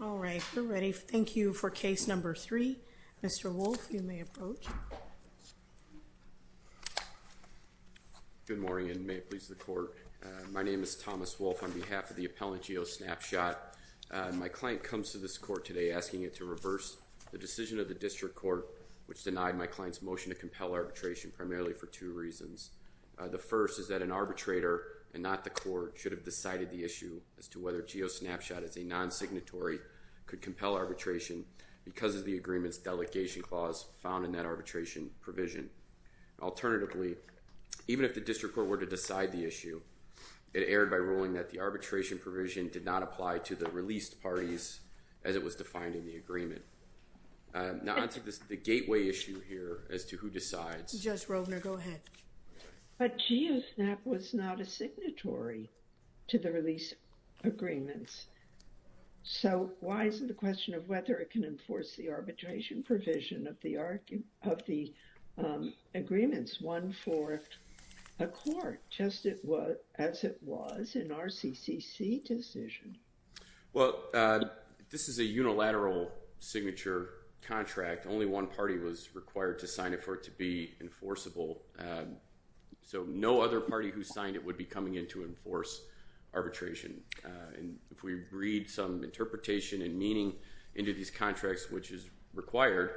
All right, we're ready. Thank you for case number three. Mr. Wolfe, you may approach. Good morning, and may it please the court. My name is Thomas Wolfe on behalf of the appellant GeoSnapShot. My client comes to this court today asking it to reverse the decision of the district court which denied my client's motion to compel arbitration primarily for two reasons. The first is that an arbitrator and not the court should have decided the issue as to whether GeoSnapShot is a non-signatory could compel arbitration because of the agreement's delegation clause found in that arbitration provision. Alternatively, even if the district court were to decide the issue, it erred by ruling that the arbitration provision did not apply to the released parties as it was defined in the agreement. Now onto the gateway issue here as to who decides. Judge Rovner, go ahead. But GeoSnap was not a signatory to the release agreements. So why is it a question of whether it can enforce the arbitration provision of the arguments, one for a court, just as it was in our CCC decision? Well, this is a unilateral signature contract. Only one party was required to sign it for it to be enforceable. So no other party who signed it would be coming in to enforce arbitration. And if we read some interpretation and meaning into these contracts, which is required,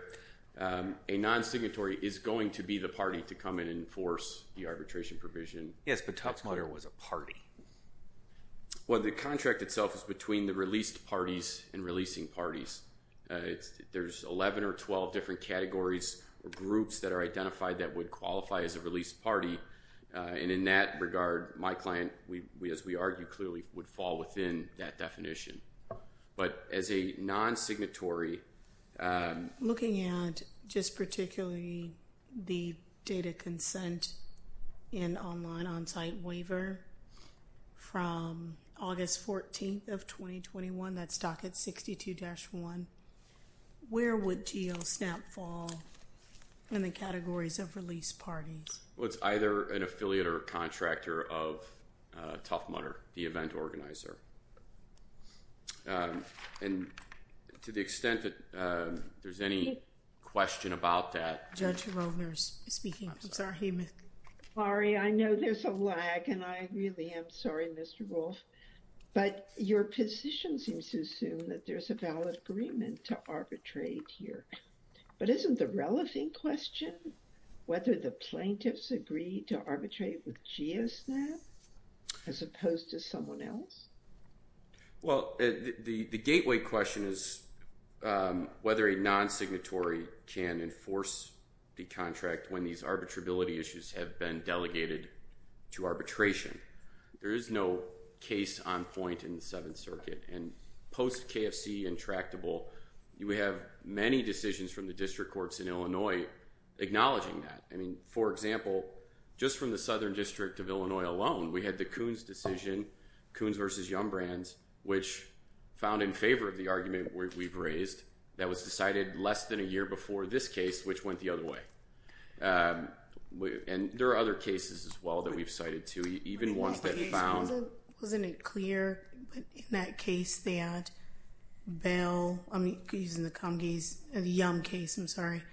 a non-signatory is going to be the party to come in and enforce the arbitration provision. Yes, but Tucksmiller was a party. Well, the contract itself is between the released parties and releasing parties. There's 11 or 12 different categories or groups that are identified that would qualify as a released party. And in that regard, my client, as we argued clearly, would fall within that definition. But as a non-signatory... Looking at just particularly the data consent in online on-site waiver from August 14th of 2021, that's docket 62-1, where would GeoSnap fall in the categories of released parties? Well, it's either an affiliate or contractor of Tucksmiller, the event organizer. And to the extent that there's any question about that... Judge Rolner is speaking. I'm sorry, Ms. Gifford. Laurie, I know there's a lag and I really am sorry, Mr. Wolf, but your position seems to assume that there's a valid agreement to arbitrate here. But isn't the relevant question, whether the plaintiffs agree to arbitrate with GeoSnap as opposed to someone else? Well, the gateway question is whether a non-signatory can enforce the contract when these arbitrability issues have been delegated to arbitration. There is no case on point in the Seventh Circuit. And post-KFC intractable, you would have many decisions from the district courts in Illinois acknowledging that. I mean, for example, just from the Southern District of Illinois alone, we had the Coons decision, Coons v. Yum Brands, which found in favor of the argument we've raised that was decided less than a year before this case, which went the other way. And there are other cases as well that we've cited too, even ones that found... Wasn't it clear in that case that Bell, I'm using the Yum case, I'm sorry,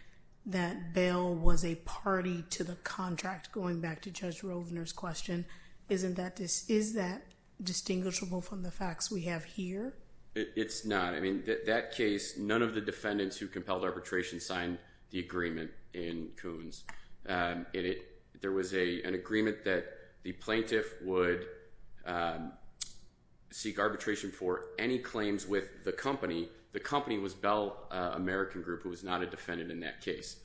that Bell was a party to the contract, going back to Judge Rovner's question. Isn't that... Is that distinguishable from the facts we have here? It's not. I mean, that case, none of the defendants who compelled arbitration signed the agreement in Coons. There was an agreement that the plaintiff would seek arbitration for any claims with the company. The company was Bell American Group, who was not a defendant in that case.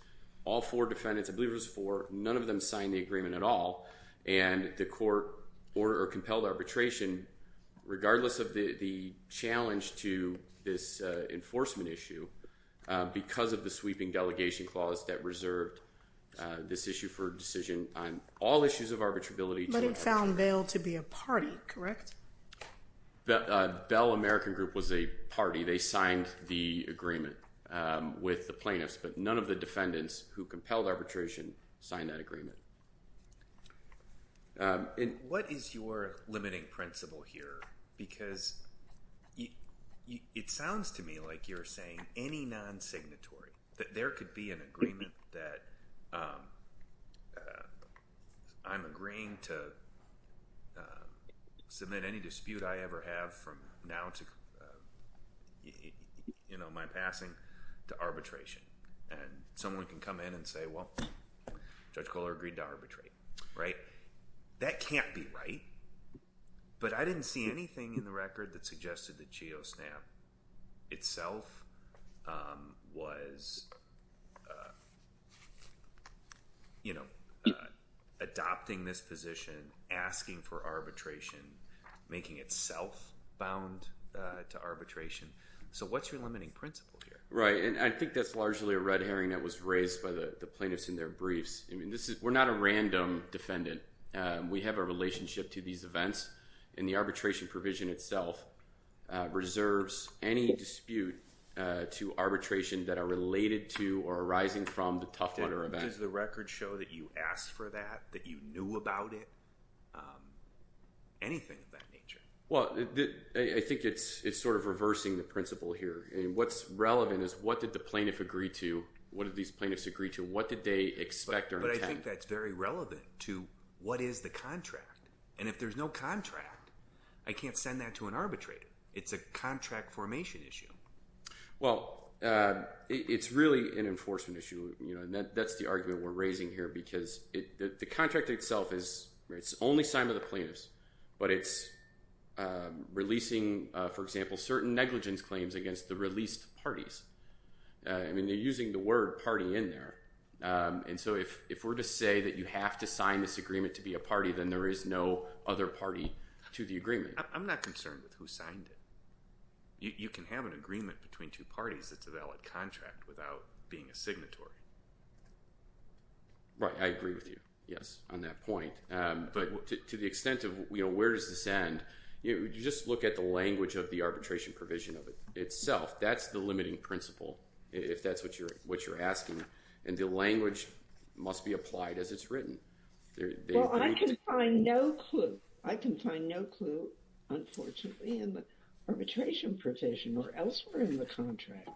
All four defendants, I believe it was four, none of them signed the agreement at all. And the court ordered or compelled arbitration, regardless of the challenge to this enforcement issue, because of the sweeping delegation clause that reserved this issue for decision on all issues of arbitrability. But it found Bell to be a party, correct? Bell American Group was a party. They signed the agreement with the plaintiffs, but none of the defendants who compelled arbitration signed that agreement. And what is your limiting principle here? Because it sounds to me like you're saying any non-signatory, that there could be an agreement that I'm agreeing to submit any dispute I ever have from now to my passing to arbitration. And someone can come in and say, well, Judge Kohler agreed to arbitrate, right? That can't be right. But I didn't see anything in the record that suggested that GeoSnap itself was adopting this position, asking for arbitration, making itself bound to arbitration. So what's your limiting principle here? Right. And I think that's largely a red herring that was raised by the plaintiffs in their briefs. I mean, we're not a random defendant. We have a relationship to these events. And the arbitration provision itself reserves any dispute to arbitration that are related to or arising from the Tough Mudder event. Does the record show that you asked for that, that you knew about it? Anything of that nature? Well, I think it's sort of reversing the principle here. What's relevant is what did the plaintiff agree to? What did these plaintiffs agree to? What did they expect or intend? But I think that's very relevant to what is the contract? And if there's no contract, I can't send that to an arbitrator. It's a contract formation issue. Well, it's really an enforcement issue. You know, that's the argument we're raising here because the contract itself is, it's only signed by the plaintiffs, but it's releasing, for example, certain negligence claims against the released parties. I mean, they're using the word party in there. And so if we're to say that you have to sign this agreement to be a party, then there is no other party to the agreement. I'm not concerned with who signed it. You can have an agreement between two parties that's a valid contract without being a signatory. Right. I agree with you. Yes, on that point. But to the extent of, you know, where does this end? You just look at the language of the arbitration provision of it itself. That's the limiting principle, if that's what you're what you're asking. And the language must be applied as it's written. Well, I can find no clue. I can find no clue, unfortunately, in the arbitration provision or elsewhere in the contract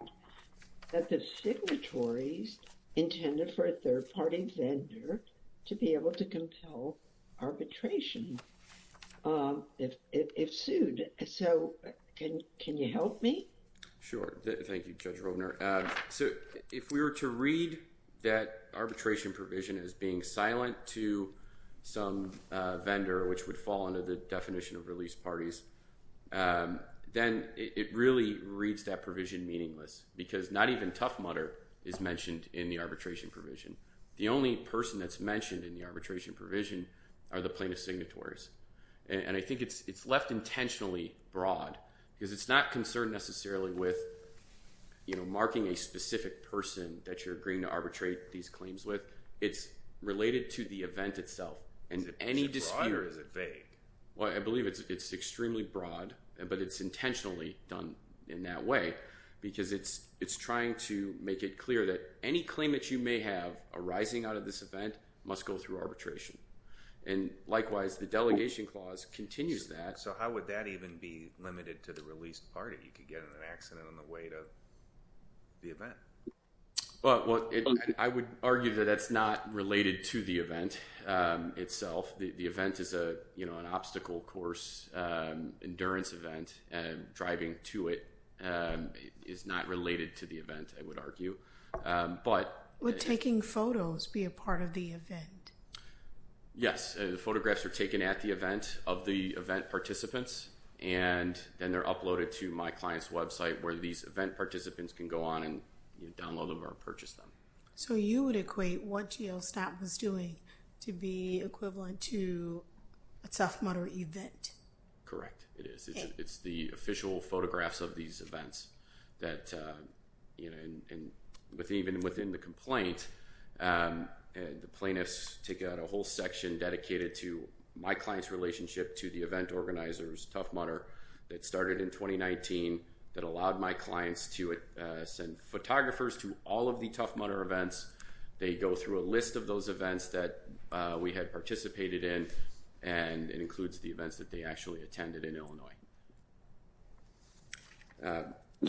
that the signatories intended for a third party vendor to be able to compel arbitration if sued. So can you help me? Sure. Thank you, Judge Roebner. So if we were to read that arbitration provision as being silent to some vendor, which would fall under the definition of released parties, then it really reads that provision meaningless because not even Tough Mudder is mentioned in the arbitration provision. The only person that's mentioned in the arbitration provision are the plaintiff's signatories. And I think it's left intentionally broad because it's not concerned necessarily with, you know, marking a specific person that you're agreeing to arbitrate these claims with. It's related to the event itself. Is it broad or is it vague? Well, I believe it's extremely broad, but it's intentionally done in that way because it's trying to make it clear that any claim that you may have arising out of this event must go through arbitration. And likewise, the delegation clause continues that. So how would that even be limited to the released party? You could get in an accident on the way to the event. Well, I would argue that that's not related to the event itself. The event is, you know, an obstacle course. Endurance event and driving to it is not related to the event, I would argue. Would taking photos be a part of the event? Yes, the photographs are taken at the event of the event participants and then they're uploaded to my client's website where these event participants can go on and download them or purchase them. So you would equate what GLSTAT was doing to be equivalent to a Tough Mudder event? Correct. It's the official photographs of these events that you know, and even within the complaint, the plaintiffs take out a whole section dedicated to my client's relationship to the event organizers, Tough Mudder, that started in 2019, that allowed my clients to send photographers to all of the Tough Mudder events. They go through a list of those events that we had participated in and it includes the events that they actually attended in Illinois.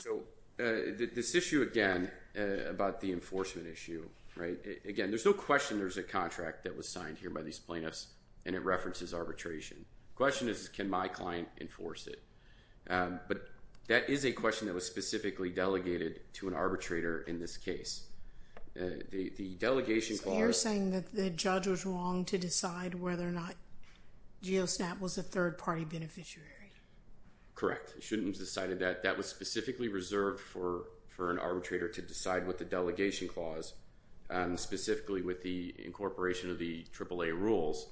So this issue, again, about the enforcement issue, right, again, there's no question there's a contract that was signed here by these plaintiffs and it references arbitration. The question is, can my client enforce it? But that is a question that was specifically delegated to an arbitrator in this case. You're saying that the judge was wrong to decide whether or not GLSTAT was a third-party beneficiary? Correct. He shouldn't have decided that. That was specifically reserved for an arbitrator to decide what the delegation clause, specifically with the incorporation of the AAA rules,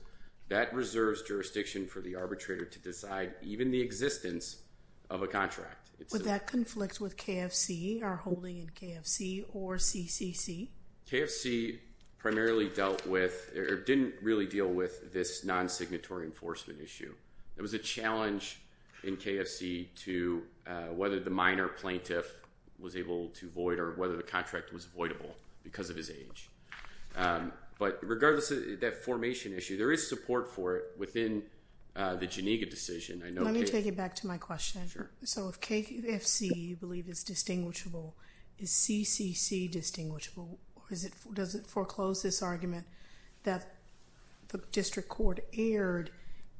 that reserves jurisdiction for the arbitrator to decide even the existence of a contract. Would that conflict with KFC, our holding in KFC, or CCC? KFC primarily dealt with, or didn't really deal with, this non-signatory enforcement issue. There was a challenge in KFC to whether the minor plaintiff was able to void or whether the contract was voidable because of his age. But regardless of that formation issue, there is support for it within the Janiga decision. Let me take it back to my question. So if KFC, you believe, is distinguishable, is CCC distinguishable? Does it foreclose this argument that the district court erred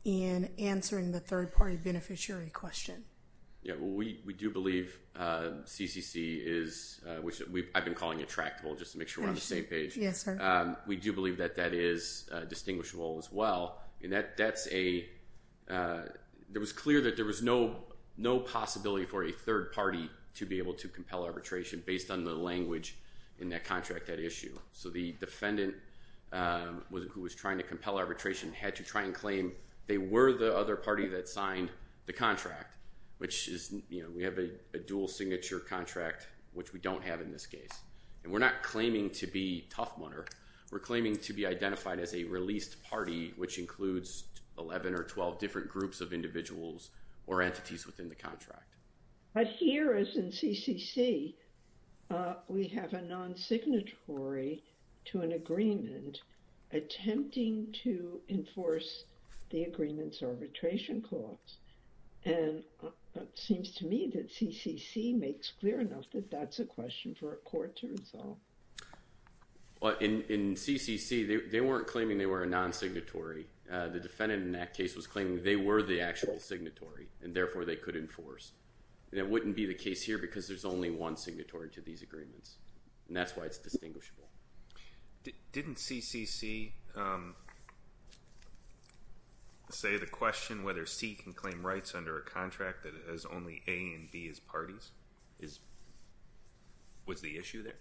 in answering the third-party beneficiary question? Yeah, we do believe CCC is, which I've been calling attractable, just to make sure we're on the same page. Yes, sir. We do believe that that is distinguishable as well. And that's a, it was clear that there was no possibility for a third party to be able to compel arbitration based on the language in that contract, that issue. So the defendant who was trying to compel arbitration had to try and claim they were the other party that signed the contract, which is, you know, we have a dual signature contract, which we don't have in this case. And we're not claiming to be Tough Monar. We're claiming to be identified as a released party, which includes 11 or 12 different groups of individuals or entities within the contract. But here, as in CCC, we have a non-signatory to an agreement attempting to enforce the agreement's arbitration clause. And it seems to me that CCC makes clear enough that that's a question for a court to resolve. Well, in CCC, they weren't claiming they were a non-signatory. The defendant in that case was claiming they were the actual signatory, and therefore they could enforce. And it wouldn't be the case here because there's only one signatory to these agreements. And that's why it's distinguishable. Didn't CCC say the question whether C can claim rights under a contract that has only A and B as parties? Is, was the issue there?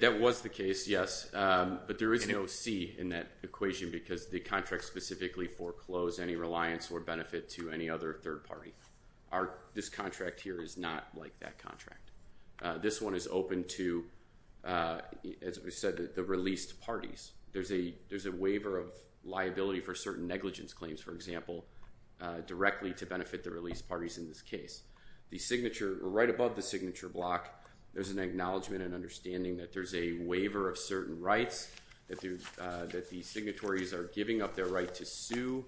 That was the case, yes. But there is no C in that equation because the contract specifically foreclosed any reliance or benefit to any other third party. This contract here is not like that contract. This one is open to, as we said, the released parties. There's a waiver of liability for certain negligence claims, for example, directly to benefit the released parties in this case. The signature, right above the signature block, there's an acknowledgment and understanding that there's a waiver of certain rights that the signatories are giving up their right to sue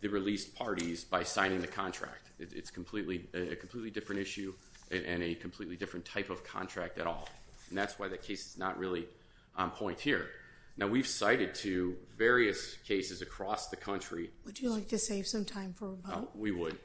the released parties by signing the contract. It's completely, a completely different issue and a completely different type of contract at all. And that's why the case is not really on point here. Now, we've cited to various cases across the country. Would you like to save some time for a vote? We would.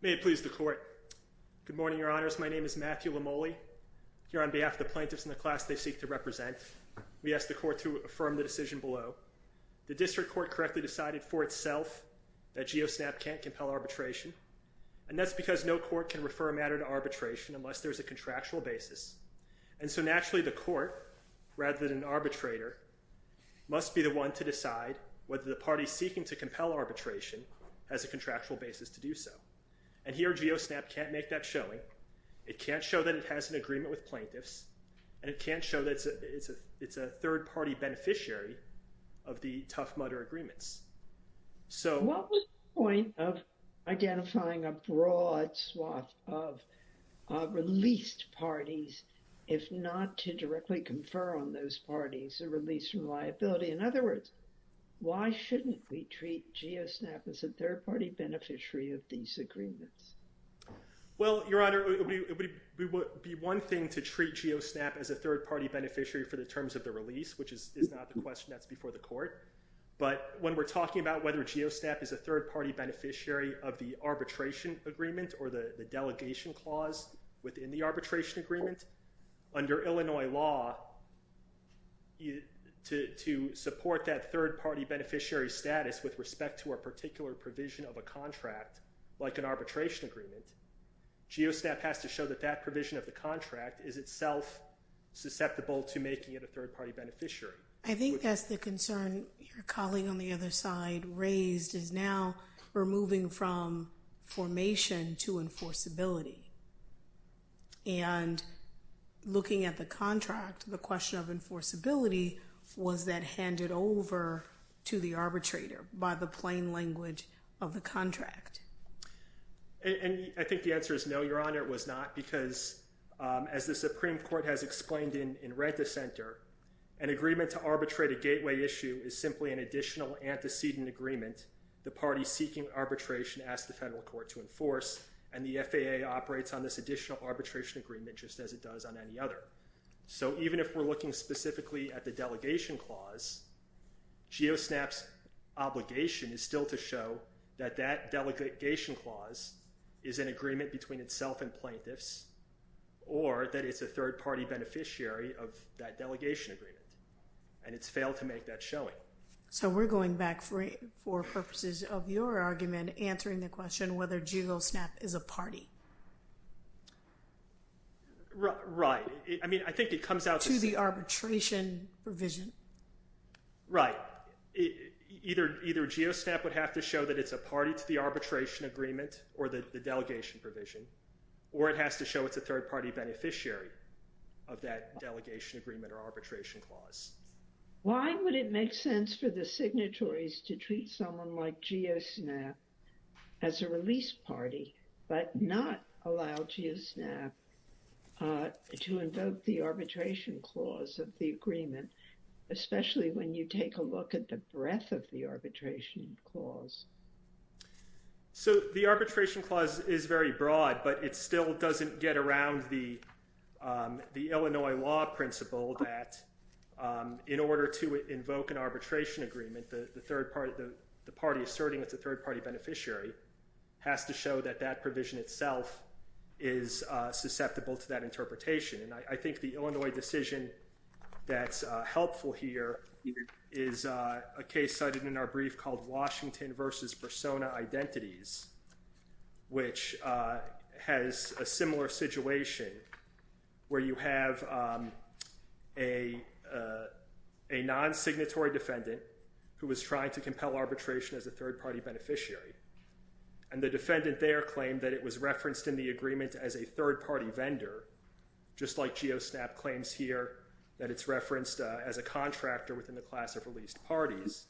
May it please the court. Good morning, your honors. My name is Matthew Lamole. Here on behalf of the plaintiffs and the class they seek to represent, we ask the court to affirm the decision below. The district court correctly decided for itself that GeoSNAP can't compel arbitration. And that's because no court can refer a matter to arbitration unless there's a contractual basis. And so naturally, the court, rather than an arbitrator, must be the one to decide whether the party seeking to compel arbitration has a contractual basis to do so. And here, GeoSNAP can't make that showing. It can't show that it has an agreement with plaintiffs. And it can't show that it's a it's a it's a third party beneficiary of the Tough Mudder agreements. So what was the point of identifying a broad swath of released parties, if not to directly confer on those parties a release from liability? In other words, why shouldn't we treat GeoSNAP as a third party beneficiary of these agreements? Well, Your Honor, it would be one thing to treat GeoSNAP as a third party beneficiary for the terms of the release, which is not the question that's before the court. But when we're talking about whether GeoSNAP is a third party beneficiary of the arbitration agreement or the delegation clause within the arbitration agreement, under Illinois law, to support that third party beneficiary status with respect to a particular provision of a contract like an arbitration agreement, GeoSNAP has to show that that provision of the contract is itself susceptible to making it a third party beneficiary. I think that's the concern your colleague on the other side raised is now we're moving from formation to enforceability. And looking at the contract, the question of enforceability, was that handed over to the arbitrator by the plain language of the contract? And I think the answer is no, Your Honor, it was not, because as the Supreme Court has explained in Rent-a-Center, an agreement to arbitrate a gateway issue is simply an additional antecedent agreement the party seeking arbitration asked the federal court to enforce, and the FAA operates on this additional arbitration agreement just as it does on any other. So even if we're looking specifically at the delegation clause, GeoSNAP's obligation is still to show that that delegation clause is an agreement between itself and plaintiffs, or that it's a third party beneficiary of that delegation agreement, and it's failed to make that showing. So we're going back for purposes of your argument, answering the question whether GeoSNAP is a party. Right. I mean, I think it comes out to the arbitration provision. Right. Either GeoSNAP would have to show that it's a party to the arbitration agreement or the delegation provision, or it has to show it's a third party beneficiary of that delegation agreement or arbitration clause. Why would it make sense for the signatories to treat someone like GeoSNAP as a release party, but not allow GeoSNAP to invoke the arbitration clause of the agreement, especially when you take a look at the breadth of the arbitration clause? So the arbitration clause is very broad, but it still doesn't get around the Illinois law principle that in order to invoke an arbitration agreement, the third party, the party asserting it's a third party beneficiary has to show that that provision itself is susceptible to that interpretation. And I think the Illinois decision that's helpful here is a case cited in our brief called Washington versus Persona Identities, which has a similar situation where you have a non-signatory defendant who was trying to compel arbitration as a third party beneficiary. And the defendant there claimed that it was referenced in the agreement as a third party vendor, just like GeoSNAP claims here that it's referenced as a contractor within the class of released parties.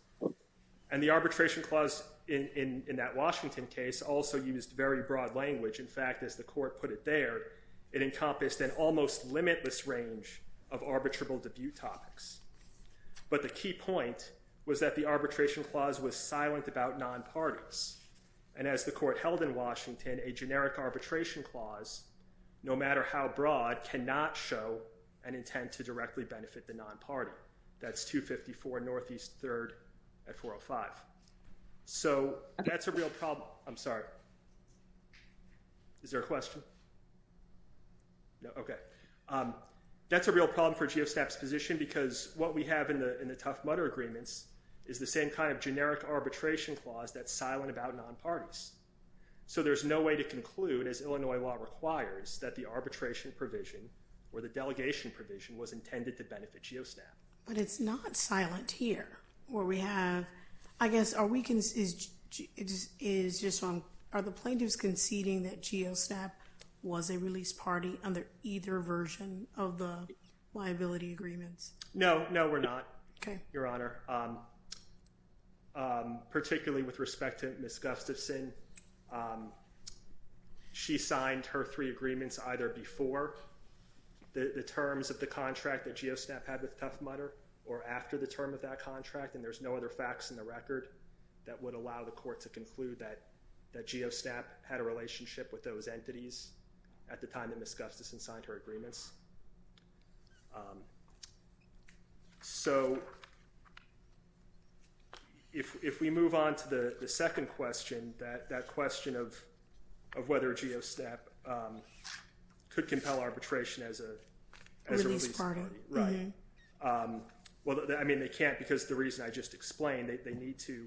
And the arbitration clause in that Washington case also used very broad language. In fact, as the court put it there, it encompassed an almost limitless range of arbitrable debut topics. But the key point was that the arbitration clause was silent about non-parties. And as the court held in Washington, a generic arbitration clause, no matter how broad, cannot show an intent to directly benefit the non-party. That's 254 Northeast 3rd at 405. So that's a real problem. I'm sorry. Is there a question? No? Okay. That's a real problem for GeoSNAP's position because what we have in the Tough Mudder agreements is the same kind of generic arbitration clause that's silent about non-parties. So there's no way to conclude, as Illinois law requires, that the arbitration provision or the delegation provision was intended to benefit GeoSNAP. But it's not silent here. What we have, I guess, are we conceding, are the plaintiffs conceding that GeoSNAP was a released party under either version of the liability agreements? No. No, we're not, Your Honor. Particularly with respect to Ms. Gustafson, she signed her three agreements either before the terms of the contract that GeoSNAP had with Tough Mudder, or after the term of that contract. And there's no other facts in the record that would allow the court to conclude that GeoSNAP had a relationship with those entities at the time that Ms. Gustafson signed her agreements. So if we move on to the second question, that question of whether GeoSNAP could compel arbitration as a released party. Well, I mean, they can't because the reason I just explained. They need to,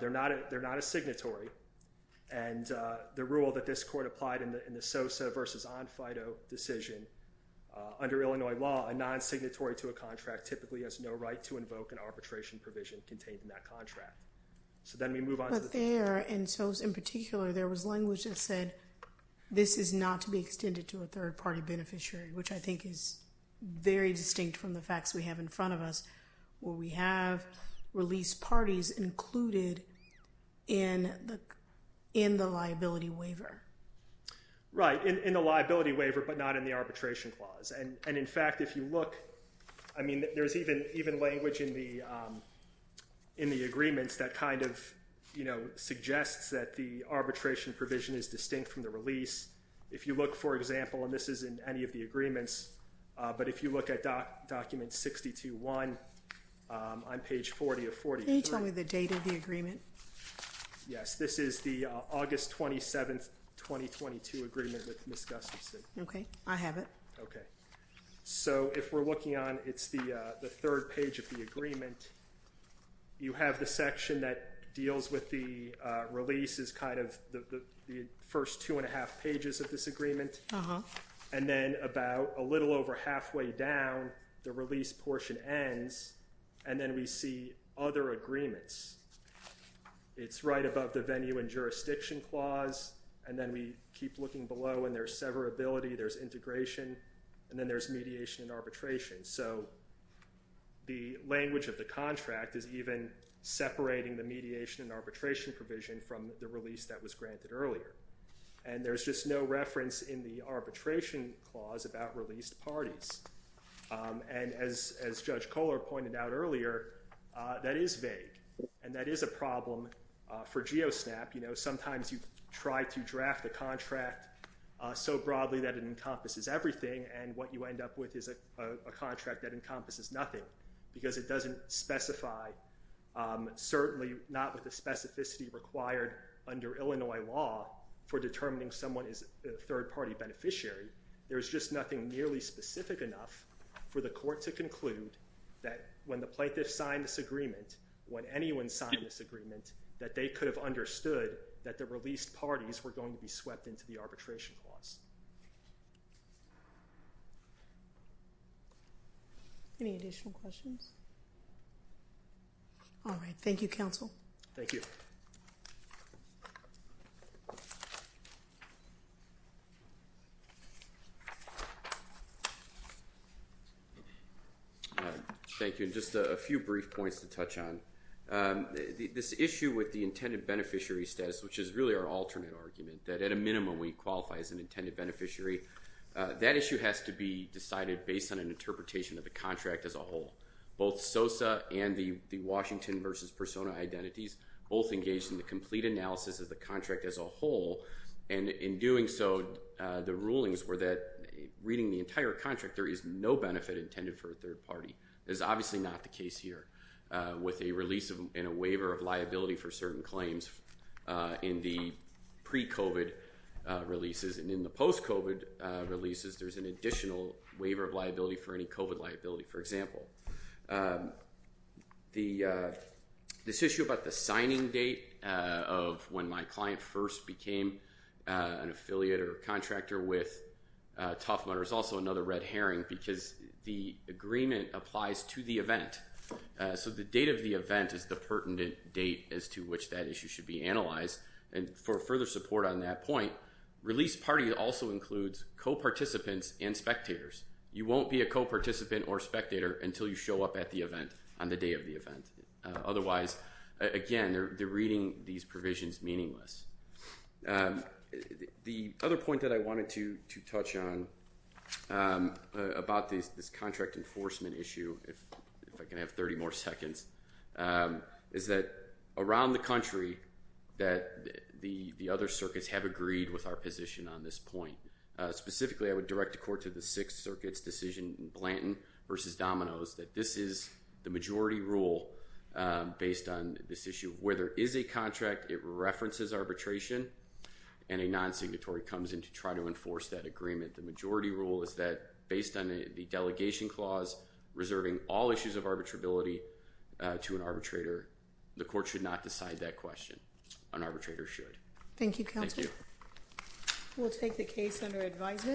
they're not a signatory. And the rule that this court applied in the SOSA versus on FIDO decision under Illinois law, a non-signatory to a contract typically has no right to invoke an arbitration provision contained in that contract. So then we move on to the third question. Right, in the liability waiver, but not in the arbitration clause. And in fact, if you look, I mean, there's even language in the agreements that kind of, you know, suggests that the arbitration provision is distinct from the release. If you look, for example, and this is in any of the agreements, but if you look at document 62-1 on page 40 of 40. Can you tell me the date of the agreement? Yes, this is the August 27th, 2022 agreement with Ms. Gustafson. Okay, I have it. Okay. So if we're looking on, it's the third page of the agreement, you have the section that deals with the release is kind of the first two and a half pages of this agreement. And then about a little over halfway down, the release portion ends and then we see other agreements. It's right above the venue and jurisdiction clause. And then we keep looking below and there's severability, there's integration. And then there's mediation and arbitration. So the language of the contract is even separating the mediation and arbitration provision from the release that was granted earlier. And there's just no reference in the arbitration clause about released parties. And as Judge Kohler pointed out earlier, that is vague and that is a problem for GeoSNAP. Sometimes you try to draft a contract so broadly that it encompasses everything. And what you end up with is a contract that encompasses nothing because it doesn't specify, certainly not with the specificity required under Illinois law for determining someone is a third party beneficiary. There's just nothing nearly specific enough for the court to conclude that when the plaintiff signed this agreement, when anyone signed this agreement, that they could have understood that the released parties were going to be swept into the arbitration clause. Any additional questions? All right. Thank you, counsel. Thank you. Thank you. And just a few brief points to touch on. This issue with the intended beneficiary status, which is really our alternate argument, that at a minimum we qualify as an intended beneficiary, that issue has to be decided based on an interpretation of the contract as a whole. Both SOSA and the Washington versus Persona identities both engaged in the complete analysis of the contract as a whole. And in doing so, the rulings were that reading the entire contract, there is no benefit intended for a third party. That is obviously not the case here. With a release and a waiver of liability for certain claims in the pre-COVID releases and in the post-COVID releases, there's an additional waiver of liability for any COVID liability, for example. This issue about the signing date of when my client first became an affiliate or contractor with Tough Mudder is also another red herring because the agreement applies to the event. So the date of the event is the pertinent date as to which that issue should be analyzed. And for further support on that point, release party also includes co-participants and spectators. You won't be a co-participant or spectator until you show up at the event on the day of the event. Otherwise, again, they're reading these provisions meaningless. The other point that I wanted to touch on about this contract enforcement issue, if I can have 30 more seconds, is that around the country that the other circuits have agreed with our position on this point. Specifically, I would direct the court to the Sixth Circuit's decision in Blanton versus Domino's, that this is the majority rule based on this issue. Where there is a contract, it references arbitration, and a non-signatory comes in to try to enforce that agreement. The majority rule is that based on the delegation clause reserving all issues of arbitrability to an arbitrator, the court should not decide that question. An arbitrator should. Thank you, Counselor. Thank you. We'll take the case under advisement.